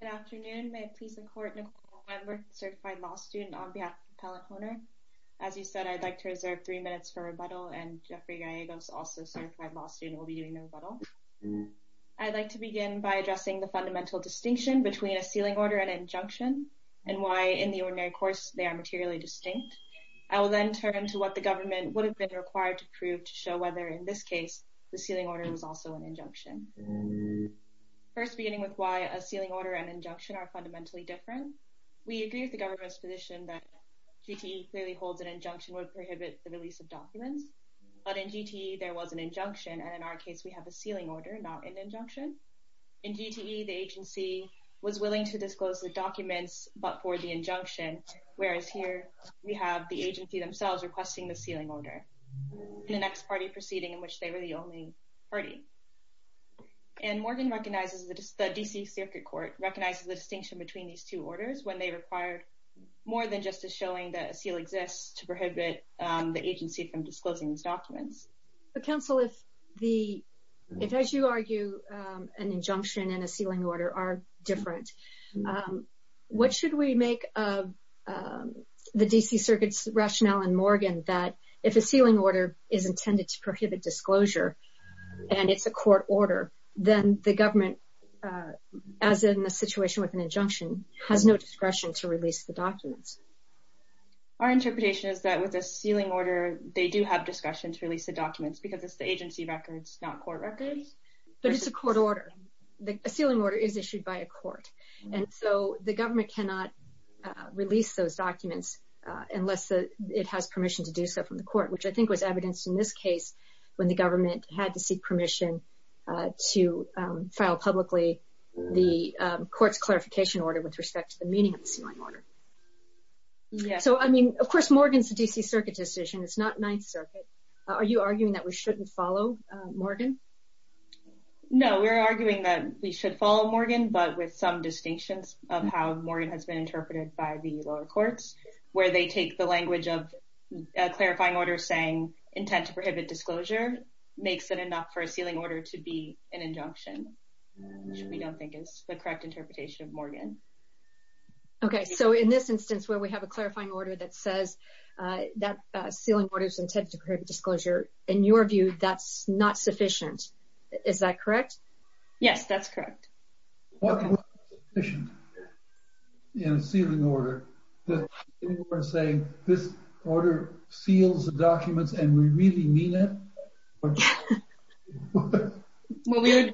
Good afternoon. May it please the Court, Nicole Weinberg, Certified Law Student on behalf of Appellate Hohner. As you said, I'd like to reserve three minutes for rebuttal, and Jeffrey Gallegos, also Certified Law Student, will be doing the rebuttal. I'd like to begin by addressing the fundamental distinction between a sealing order and an injunction, and why, in the ordinary course, they are materially distinct. I will then turn to what the government would have been required to prove to show whether, in this case, the sealing order was also an injunction. First, beginning with why a sealing order and injunction are fundamentally different. We agree with the government's position that GTE clearly holds an injunction would prohibit the release of documents. But in GTE, there was an injunction, and in our case, we have a sealing order, not an injunction. In GTE, the agency was willing to disclose the documents, but for the injunction, whereas here, we have the agency themselves requesting the sealing order. In the next party proceeding in which they were the only party. And Morgan recognizes that the D.C. Circuit Court recognizes the distinction between these two orders when they required more than just a showing that a seal exists to prohibit the agency from disclosing these documents. Counsel, if, as you argue, an injunction and a sealing order are different, what should we make of the D.C. Circuit's rationale in Morgan that if a sealing order is intended to prohibit disclosure, and it's a court order, then the government, as in the situation with an injunction, has no discretion to release the documents? Our interpretation is that with a sealing order, they do have discretion to release the documents because it's the agency records, not court records. But it's a court order. A sealing order is issued by a court. And so the government cannot release those documents unless it has permission to do so from the court, which I think was evidenced in this case when the government had to seek permission to file publicly the court's clarification order with respect to the meaning of the sealing order. So, I mean, of course, Morgan's a D.C. Circuit decision. It's not Ninth Circuit. Are you arguing that we shouldn't follow Morgan? No, we're arguing that we should follow Morgan, but with some distinctions of how Morgan has been interpreted by the lower courts, where they take the language of a clarifying order saying intent to prohibit disclosure makes it enough for a sealing order to be an injunction, which we don't think is the correct interpretation of Morgan. Okay. So, in this instance where we have a clarifying order that says that sealing order is intent to prohibit disclosure, in your view, that's not sufficient. Is that correct? Yes, that's correct. What would be sufficient in a sealing order that anyone would say this order seals the documents and we really mean it? Well, we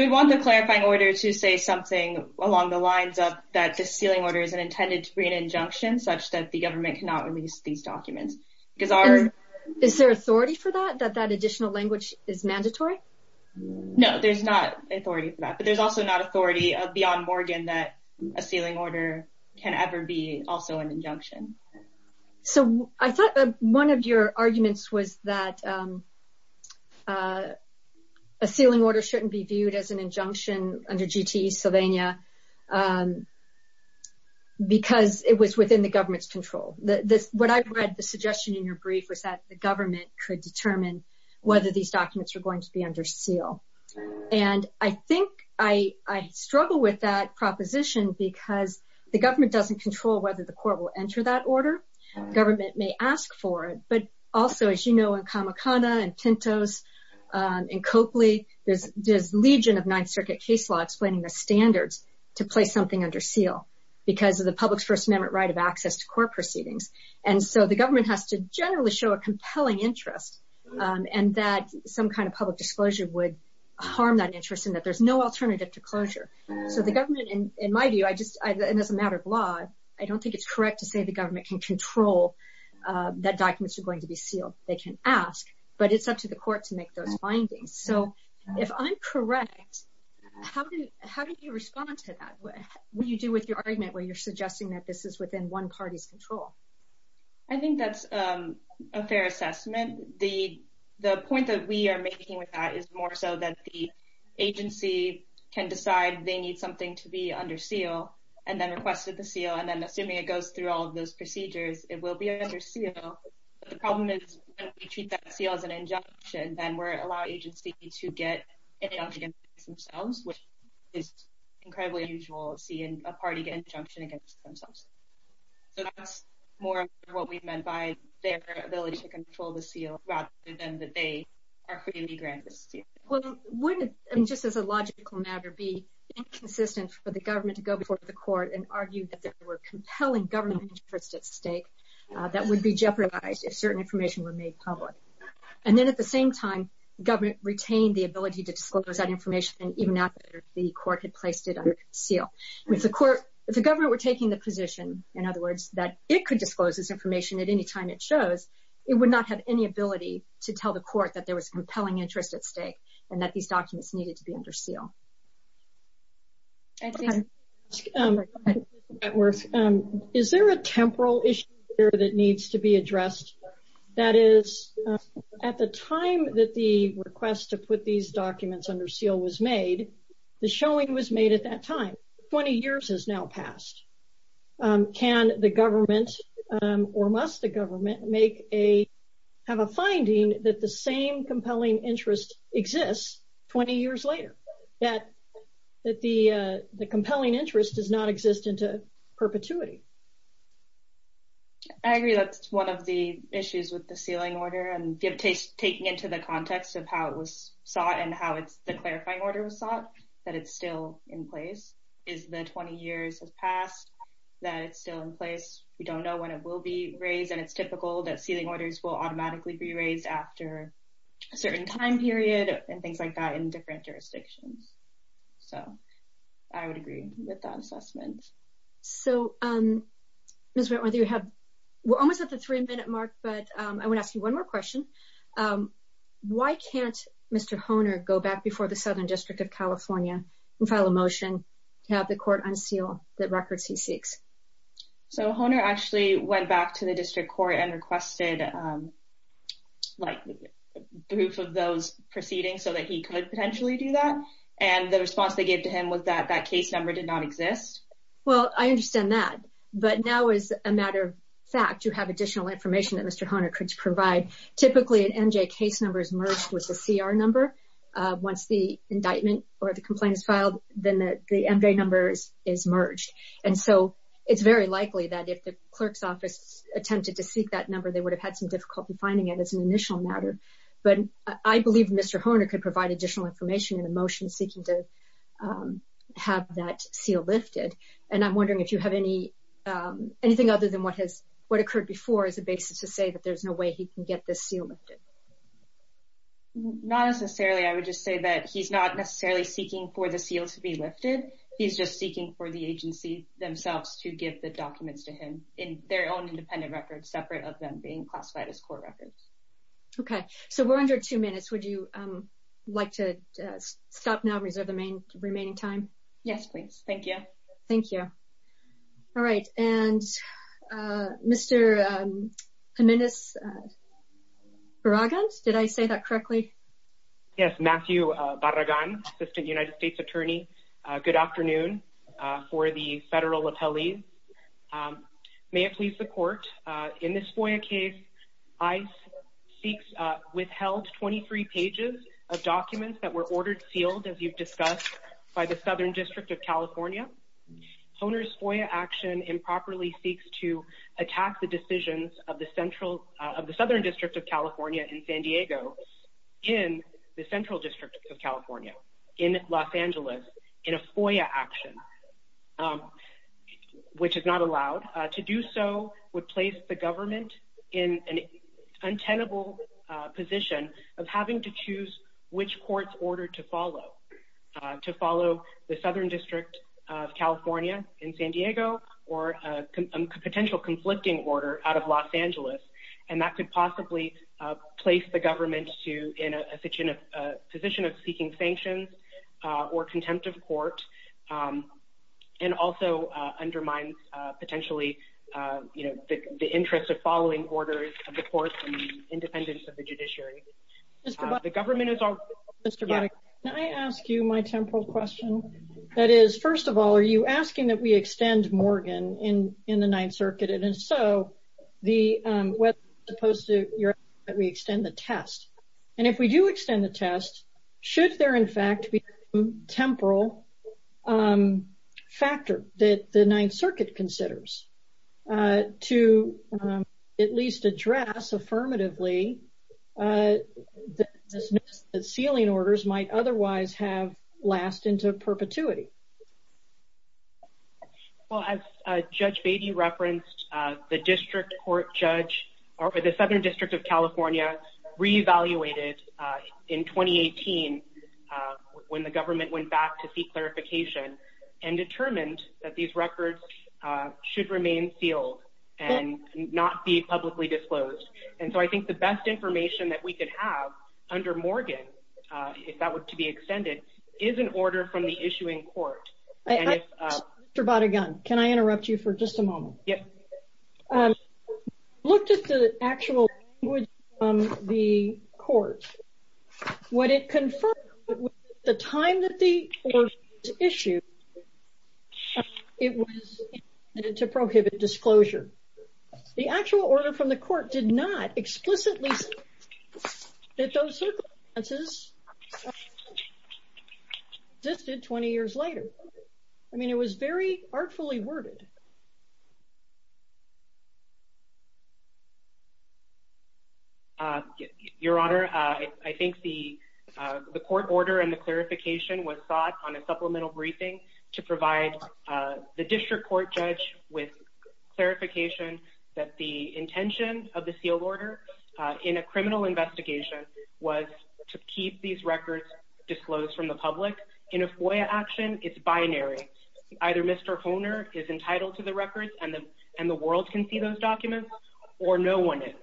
would want the clarifying order to say something along the lines of that the sealing order is intended to be an injunction such that the government cannot release these documents. Is there authority for that, that that additional language is mandatory? No, there's not authority for that, but there's also not authority beyond Morgan that a sealing order can ever be also an injunction. So, I thought one of your arguments was that a sealing order shouldn't be viewed as an injunction under GTE Sylvania because it was within the government's control. What I read the suggestion in your brief was that the government could determine whether these documents are going to be under seal. And I think I struggle with that proposition because the government doesn't control whether the court will enter that order. Government may ask for it, but also, as you know, in Kamakana and Pintos and Copley, there's legion of Ninth Circuit case law explaining the standards to place something under seal because of the public's First Amendment right of access to court proceedings. And so, the government has to generally show a compelling interest and that some kind of public disclosure would harm that interest and that there's no alternative to closure. So, the government, in my view, I just, it doesn't matter of law, I don't think it's correct to say the government can control that documents are going to be sealed. They can ask, but it's up to the court to make those findings. So, if I'm correct, how do you respond to that? What do you do with your argument where you're suggesting that this is within one party's control? I think that's a fair assessment. The point that we are making with that is more so that the agency can decide they need something to be under seal and then requested the seal and then assuming it goes through all of those procedures, it will be under seal. The problem is if we treat that seal as an injunction, then we're allowing the agency to get an injunction against themselves, which is incredibly unusual seeing a party get an injunction against themselves. So, that's more what we meant by their ability to control the seal rather than that they are free to be granted the seal. Well, wouldn't it, just as a logical matter, be inconsistent for the government to go before the court and argue that there were compelling government interests at stake that would be jeopardized if certain information were made public? And then at the same time, government retained the ability to disclose that information even after the court had placed it under seal. If the government were taking the position, in other words, that it could disclose this information at any time it shows, it would not have any ability to tell the court that there was compelling interest at stake and that these documents needed to be under seal. Is there a temporal issue that needs to be addressed? That is, at the time that the request to put these documents under seal was made, the showing was made at that time. 20 years has now passed. Can the government, or must the government, have a finding that the same compelling interest exists 20 years later? That the compelling interest does not exist into perpetuity? I agree that's one of the issues with the sealing order. And taking into the context of how it was sought and how the clarifying order was sought, that it's still in place. Is the 20 years has passed, that it's still in place? We don't know when it will be raised. And it's typical that sealing orders will automatically be raised after a certain time period and things like that in different jurisdictions. So I would agree with that assessment. We're almost at the three-minute mark, but I want to ask you one more question. Why can't Mr. Hohner go back before the Southern District of California and file a motion to have the court unseal the records he seeks? Hohner actually went back to the district court and requested proof of those proceedings so that he could potentially do that. And the response they gave to him was that that case number did not exist? Well, I understand that. But now, as a matter of fact, you have additional information that Mr. Hohner could provide. Typically, an MJ case number is merged with a CR number. Once the indictment or the complaint is filed, then the MJ number is merged. And so it's very likely that if the clerk's office attempted to seek that number, they would have had some difficulty finding it as an initial matter. But I believe Mr. Hohner could provide additional information in the motion seeking to have that seal lifted. And I'm wondering if you have anything other than what occurred before as a basis to say that there's no way he can get this seal lifted. Not necessarily. I would just say that he's not necessarily seeking for the seal to be lifted. He's just seeking for the agency themselves to give the documents to him in their own independent records separate of them being classified as court records. Okay. So we're under two minutes. Would you like to stop now and reserve the remaining time? Yes, please. Thank you. All right. And Mr. Jimenez-Barragan, did I say that correctly? Yes. Matthew Barragan, Assistant United States Attorney. Good afternoon. My name is Matthew Barragan for the Federal Appellees. May it please the Court, in this FOIA case, ICE withheld 23 pages of documents that were ordered sealed, as you've discussed, by the Southern District of California. Hohner's FOIA action improperly seeks to attack the decisions of the Southern District of California in San Diego in the Central District of California in Los Angeles in a FOIA action, which is not allowed. To do so would place the government in an untenable position of having to choose which court's order to follow, to follow the Southern District of California in San Diego or a potential conflicting order out of Los Angeles. And that could possibly place the government in a position of seeking sanctions or contempt of court and also undermine, potentially, the interest of following orders of the courts and independence of the judiciary. Mr. Barragan, can I ask you my temporal question? That is, first of all, are you asking that we extend Morgan in the Ninth Circuit? And if we do extend the test, should there, in fact, be a temporal factor that the Ninth Circuit considers to at least address affirmatively the dismissal of sealing orders might otherwise have lasted into perpetuity? Well, as Judge Beatty referenced, the district court judge or the Southern District of California re-evaluated in 2018 when the government went back to seek clarification and determined that these records should remain sealed and not be publicly disclosed. And so I think the best information that we could have under Morgan, if that were to be extended, is an order from the issuing court. Mr. Barragan, can I interrupt you for just a moment? Yes. I looked at the actual language from the court. What it confirmed was that at the time that the order was issued, it was intended to prohibit disclosure. The actual order from the court did not explicitly state that those circumstances existed 20 years later. I mean, it was very artfully worded. Your Honor, I think the court order and the clarification was sought on a supplemental briefing to provide the district court judge with clarification that the intention of the sealed order in a criminal investigation was to keep these records disclosed from the public. In a FOIA action, it's binary. Either Mr. Hohner is entitled to the records and the world can see those documents, or no one is.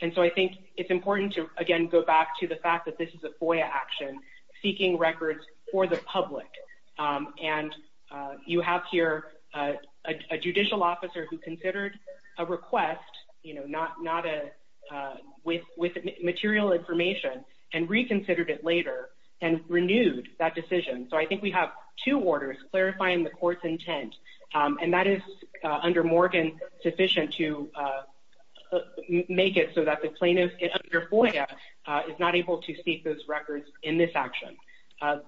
And so I think it's important to, again, go back to the fact that this is a FOIA action seeking records for the public. And you have here a judicial officer who considered a request with material information and reconsidered it later and renewed that decision. So I think we have two orders clarifying the court's intent. And that is, under Morgan, sufficient to make it so that the plaintiff under FOIA is not able to seek those records in this action.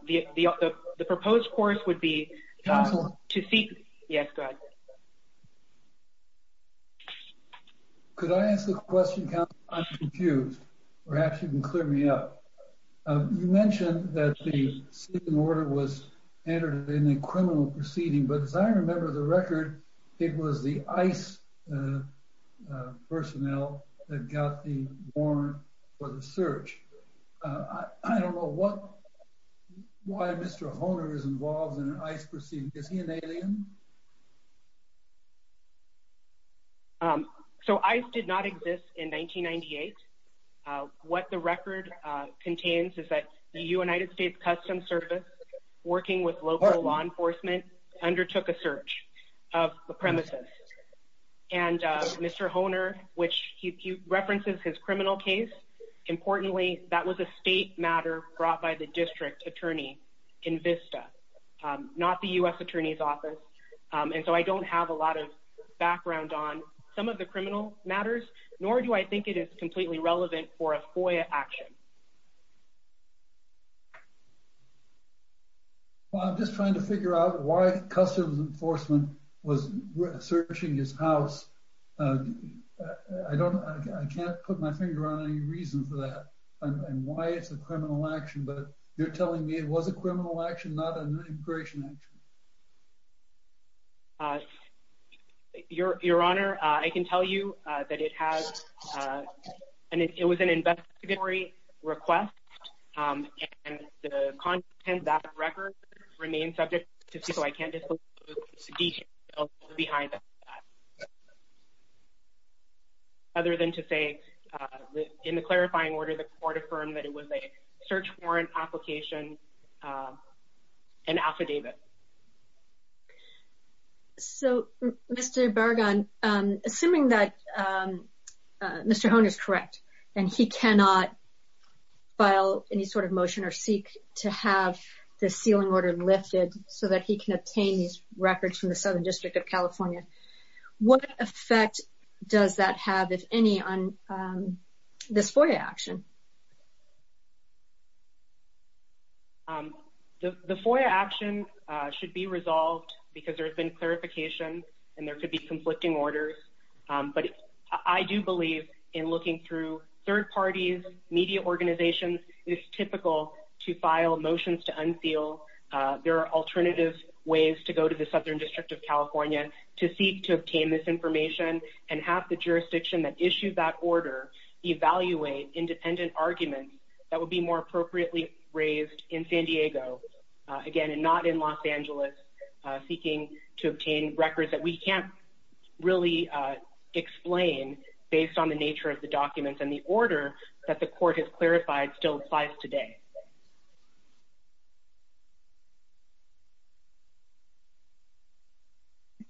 The proposed course would be to seek— Counsel. Yes, go ahead. Could I ask a question, counsel? I'm confused. Perhaps you can clear me up. You mentioned that the sealed order was entered in a criminal proceeding, but as I remember the record, it was the ICE personnel that got the warrant for the search. I don't know why Mr. Hohner is involved in an ICE proceeding. Is he an alien? So ICE did not exist in 1998. What the record contains is that the United States Customs Service, working with local law enforcement, undertook a search of the premises. And Mr. Hohner, which he references his criminal case, importantly, that was a state matter brought by the district attorney in VISTA, not the U.S. Attorney's Office. And so I don't have a lot of background on some of the criminal matters, nor do I think it is completely relevant for a FOIA action. Well, I'm just trying to figure out why Customs Enforcement was searching his house. I can't put my finger on any reason for that and why it's a criminal action, but you're telling me it was a criminal action, not an immigration action. Your Honor, I can tell you that it was an investigatory request, and the content of that record remains subject to me, so I can't disclose the details behind that. Other than to say, in the clarifying order, the court affirmed that it was a search warrant application, an affidavit. So, Mr. Bergan, assuming that Mr. Hohner is correct and he cannot file any sort of motion or seek to have the sealing order lifted so that he can obtain these records from the Southern District of California, what effect does that have, if any, on this FOIA action? The FOIA action should be resolved because there's been clarification and there could be conflicting orders. But I do believe in looking through third parties, media organizations, it's typical to file motions to unseal. There are alternative ways to go to the Southern District of California to seek to obtain this information and have the jurisdiction that issued that order evaluate independently. There are independent arguments that would be more appropriately raised in San Diego, again, and not in Los Angeles, seeking to obtain records that we can't really explain based on the nature of the documents and the order that the court has clarified still applies today.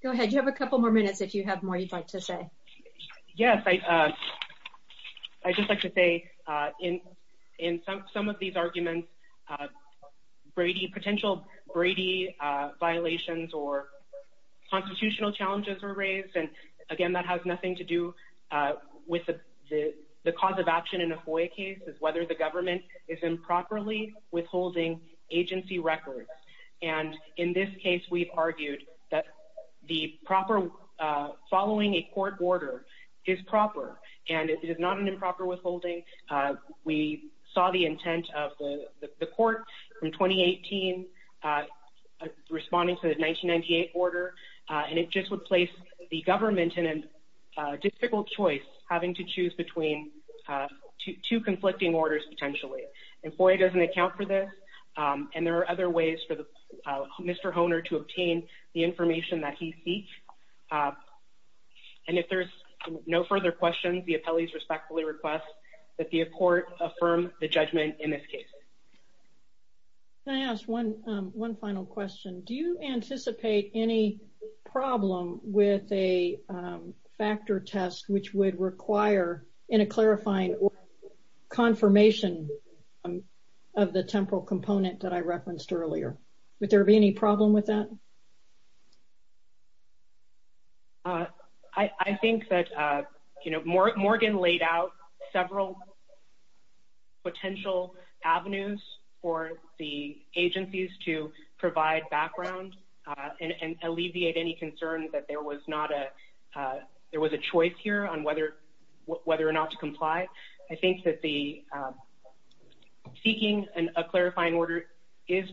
Go ahead, you have a couple more minutes if you have more you'd like to say. Yes, I'd just like to say in some of these arguments, potential Brady violations or constitutional challenges were raised. And again, that has nothing to do with the cause of action in a FOIA case is whether the government is improperly withholding agency records. And in this case, we've argued that the proper following a court order is proper and it is not an improper withholding. We saw the intent of the court in 2018 responding to the 1998 order, and it just would place the government in a difficult choice having to choose between two conflicting orders potentially. And FOIA doesn't account for this. And there are other ways for Mr. Hohner to obtain the information that he seeks. And if there's no further questions, the appellees respectfully request that the court affirm the judgment in this case. Can I ask one final question? Do you anticipate any problem with a factor test, which would require in a clarifying confirmation of the temporal component that I referenced earlier? Would there be any problem with that? I think that, you know, Morgan laid out several potential avenues for the agencies to provide background and alleviate any concern that there was not a – there was a choice here on whether or not to comply. I think that the – seeking a clarifying order is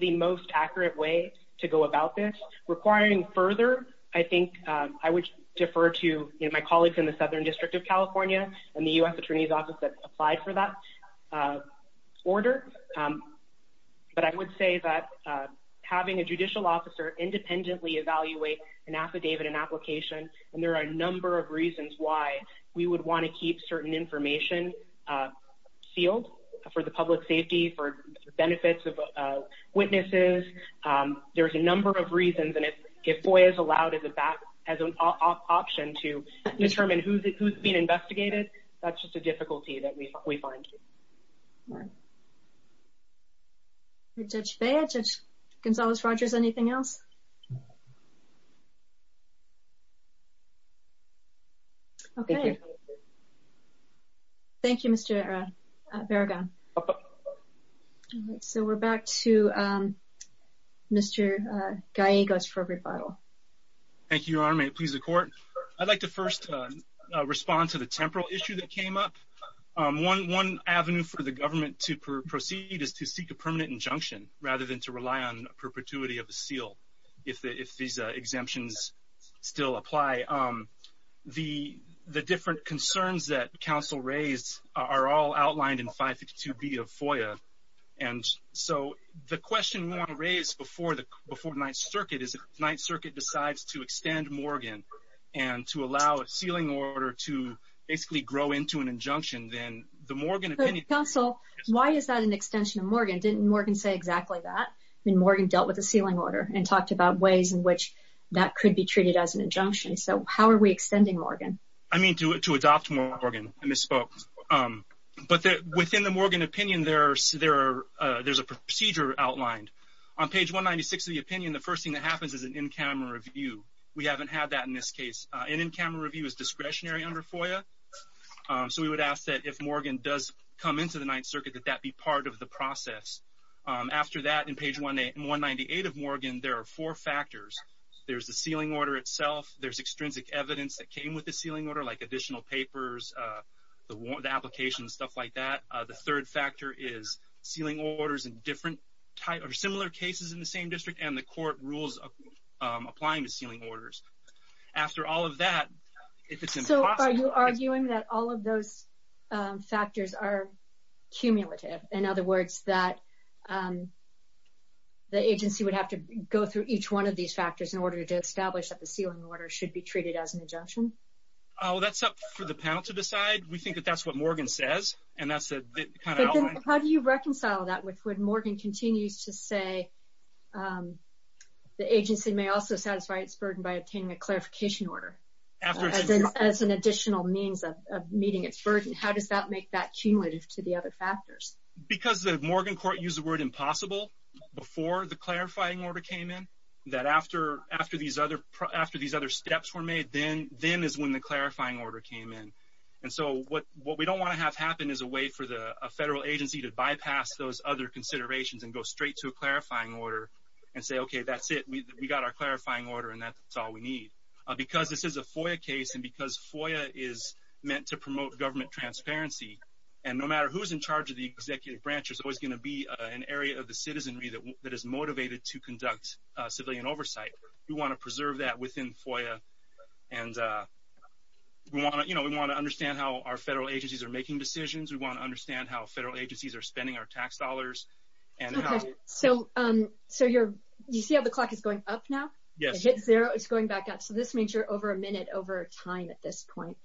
the most accurate way to go about this. Requiring further, I think I would defer to, you know, my colleagues in the Southern District of California and the U.S. Attorney's Office that applied for that order. But I would say that having a judicial officer independently evaluate an affidavit, an application, and there are a number of reasons why we would want to keep certain information sealed for the public safety, for benefits of witnesses. There's a number of reasons, and if FOIA is allowed as an option to determine who's being investigated, that's just a difficulty that we find. All right. Judge Bea, Judge Gonzales-Rogers, anything else? Okay. Thank you. Thank you, Mr. Barragan. All right, so we're back to Mr. Gallegos for a rebuttal. Thank you, Your Honor. May it please the Court? I'd like to first respond to the temporal issue that came up. One avenue for the government to proceed is to seek a permanent injunction rather than to rely on perpetuity of the seal if these exemptions still apply. The different concerns that counsel raised are all outlined in 562B of FOIA. So the question we want to raise before the Ninth Circuit is if the Ninth Circuit decides to extend Morgan and to allow a sealing order to basically grow into an injunction, then the Morgan opinion… Counsel, why is that an extension of Morgan? Didn't Morgan say exactly that? I mean, Morgan dealt with the sealing order and talked about ways in which that could be treated as an injunction. So how are we extending Morgan? I mean, to adopt Morgan. I misspoke. But within the Morgan opinion, there's a procedure outlined. On page 196 of the opinion, the first thing that happens is an in-camera review. We haven't had that in this case. An in-camera review is discretionary under FOIA. So we would ask that if Morgan does come into the Ninth Circuit, that that be part of the process. After that, in page 198 of Morgan, there are four factors. There's the sealing order itself. There's extrinsic evidence that came with the sealing order, like additional papers, the application, stuff like that. The third factor is sealing orders in similar cases in the same district, and the court rules applying to sealing orders. After all of that, if it's impossible… factors are cumulative. In other words, that the agency would have to go through each one of these factors in order to establish that the sealing order should be treated as an injunction. Oh, that's up for the panel to decide. We think that that's what Morgan says, and that's the kind of outline. How do you reconcile that with when Morgan continues to say the agency may also satisfy its burden by obtaining a clarification order as an additional means of meeting its burden? How does that make that cumulative to the other factors? Because the Morgan court used the word impossible before the clarifying order came in, that after these other steps were made, then is when the clarifying order came in. And so what we don't want to have happen is a way for a federal agency to bypass those other considerations and go straight to a clarifying order and say, okay, that's it. We got our clarifying order, and that's all we need. Because this is a FOIA case, and because FOIA is meant to promote government transparency, and no matter who's in charge of the executive branch, there's always going to be an area of the citizenry that is motivated to conduct civilian oversight. We want to preserve that within FOIA, and we want to understand how our federal agencies are making decisions. We want to understand how federal agencies are spending our tax dollars. So you see how the clock is going up now? Yes. It's going back up. So this means you're over a minute over time at this point.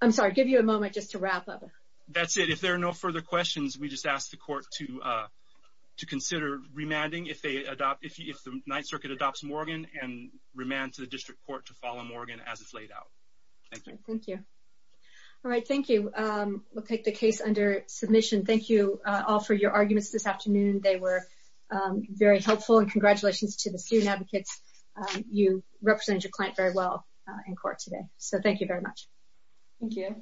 I'm sorry. Give you a moment just to wrap up. That's it. If there are no further questions, we just ask the court to consider remanding if the Ninth Circuit adopts Morgan and remand to the district court to follow Morgan as it's laid out. Thank you. Thank you. All right, thank you. We'll take the case under submission. Thank you all for your arguments this afternoon. They were very helpful, and congratulations to the student advocates. You represented your client very well in court today, so thank you very much. Thank you.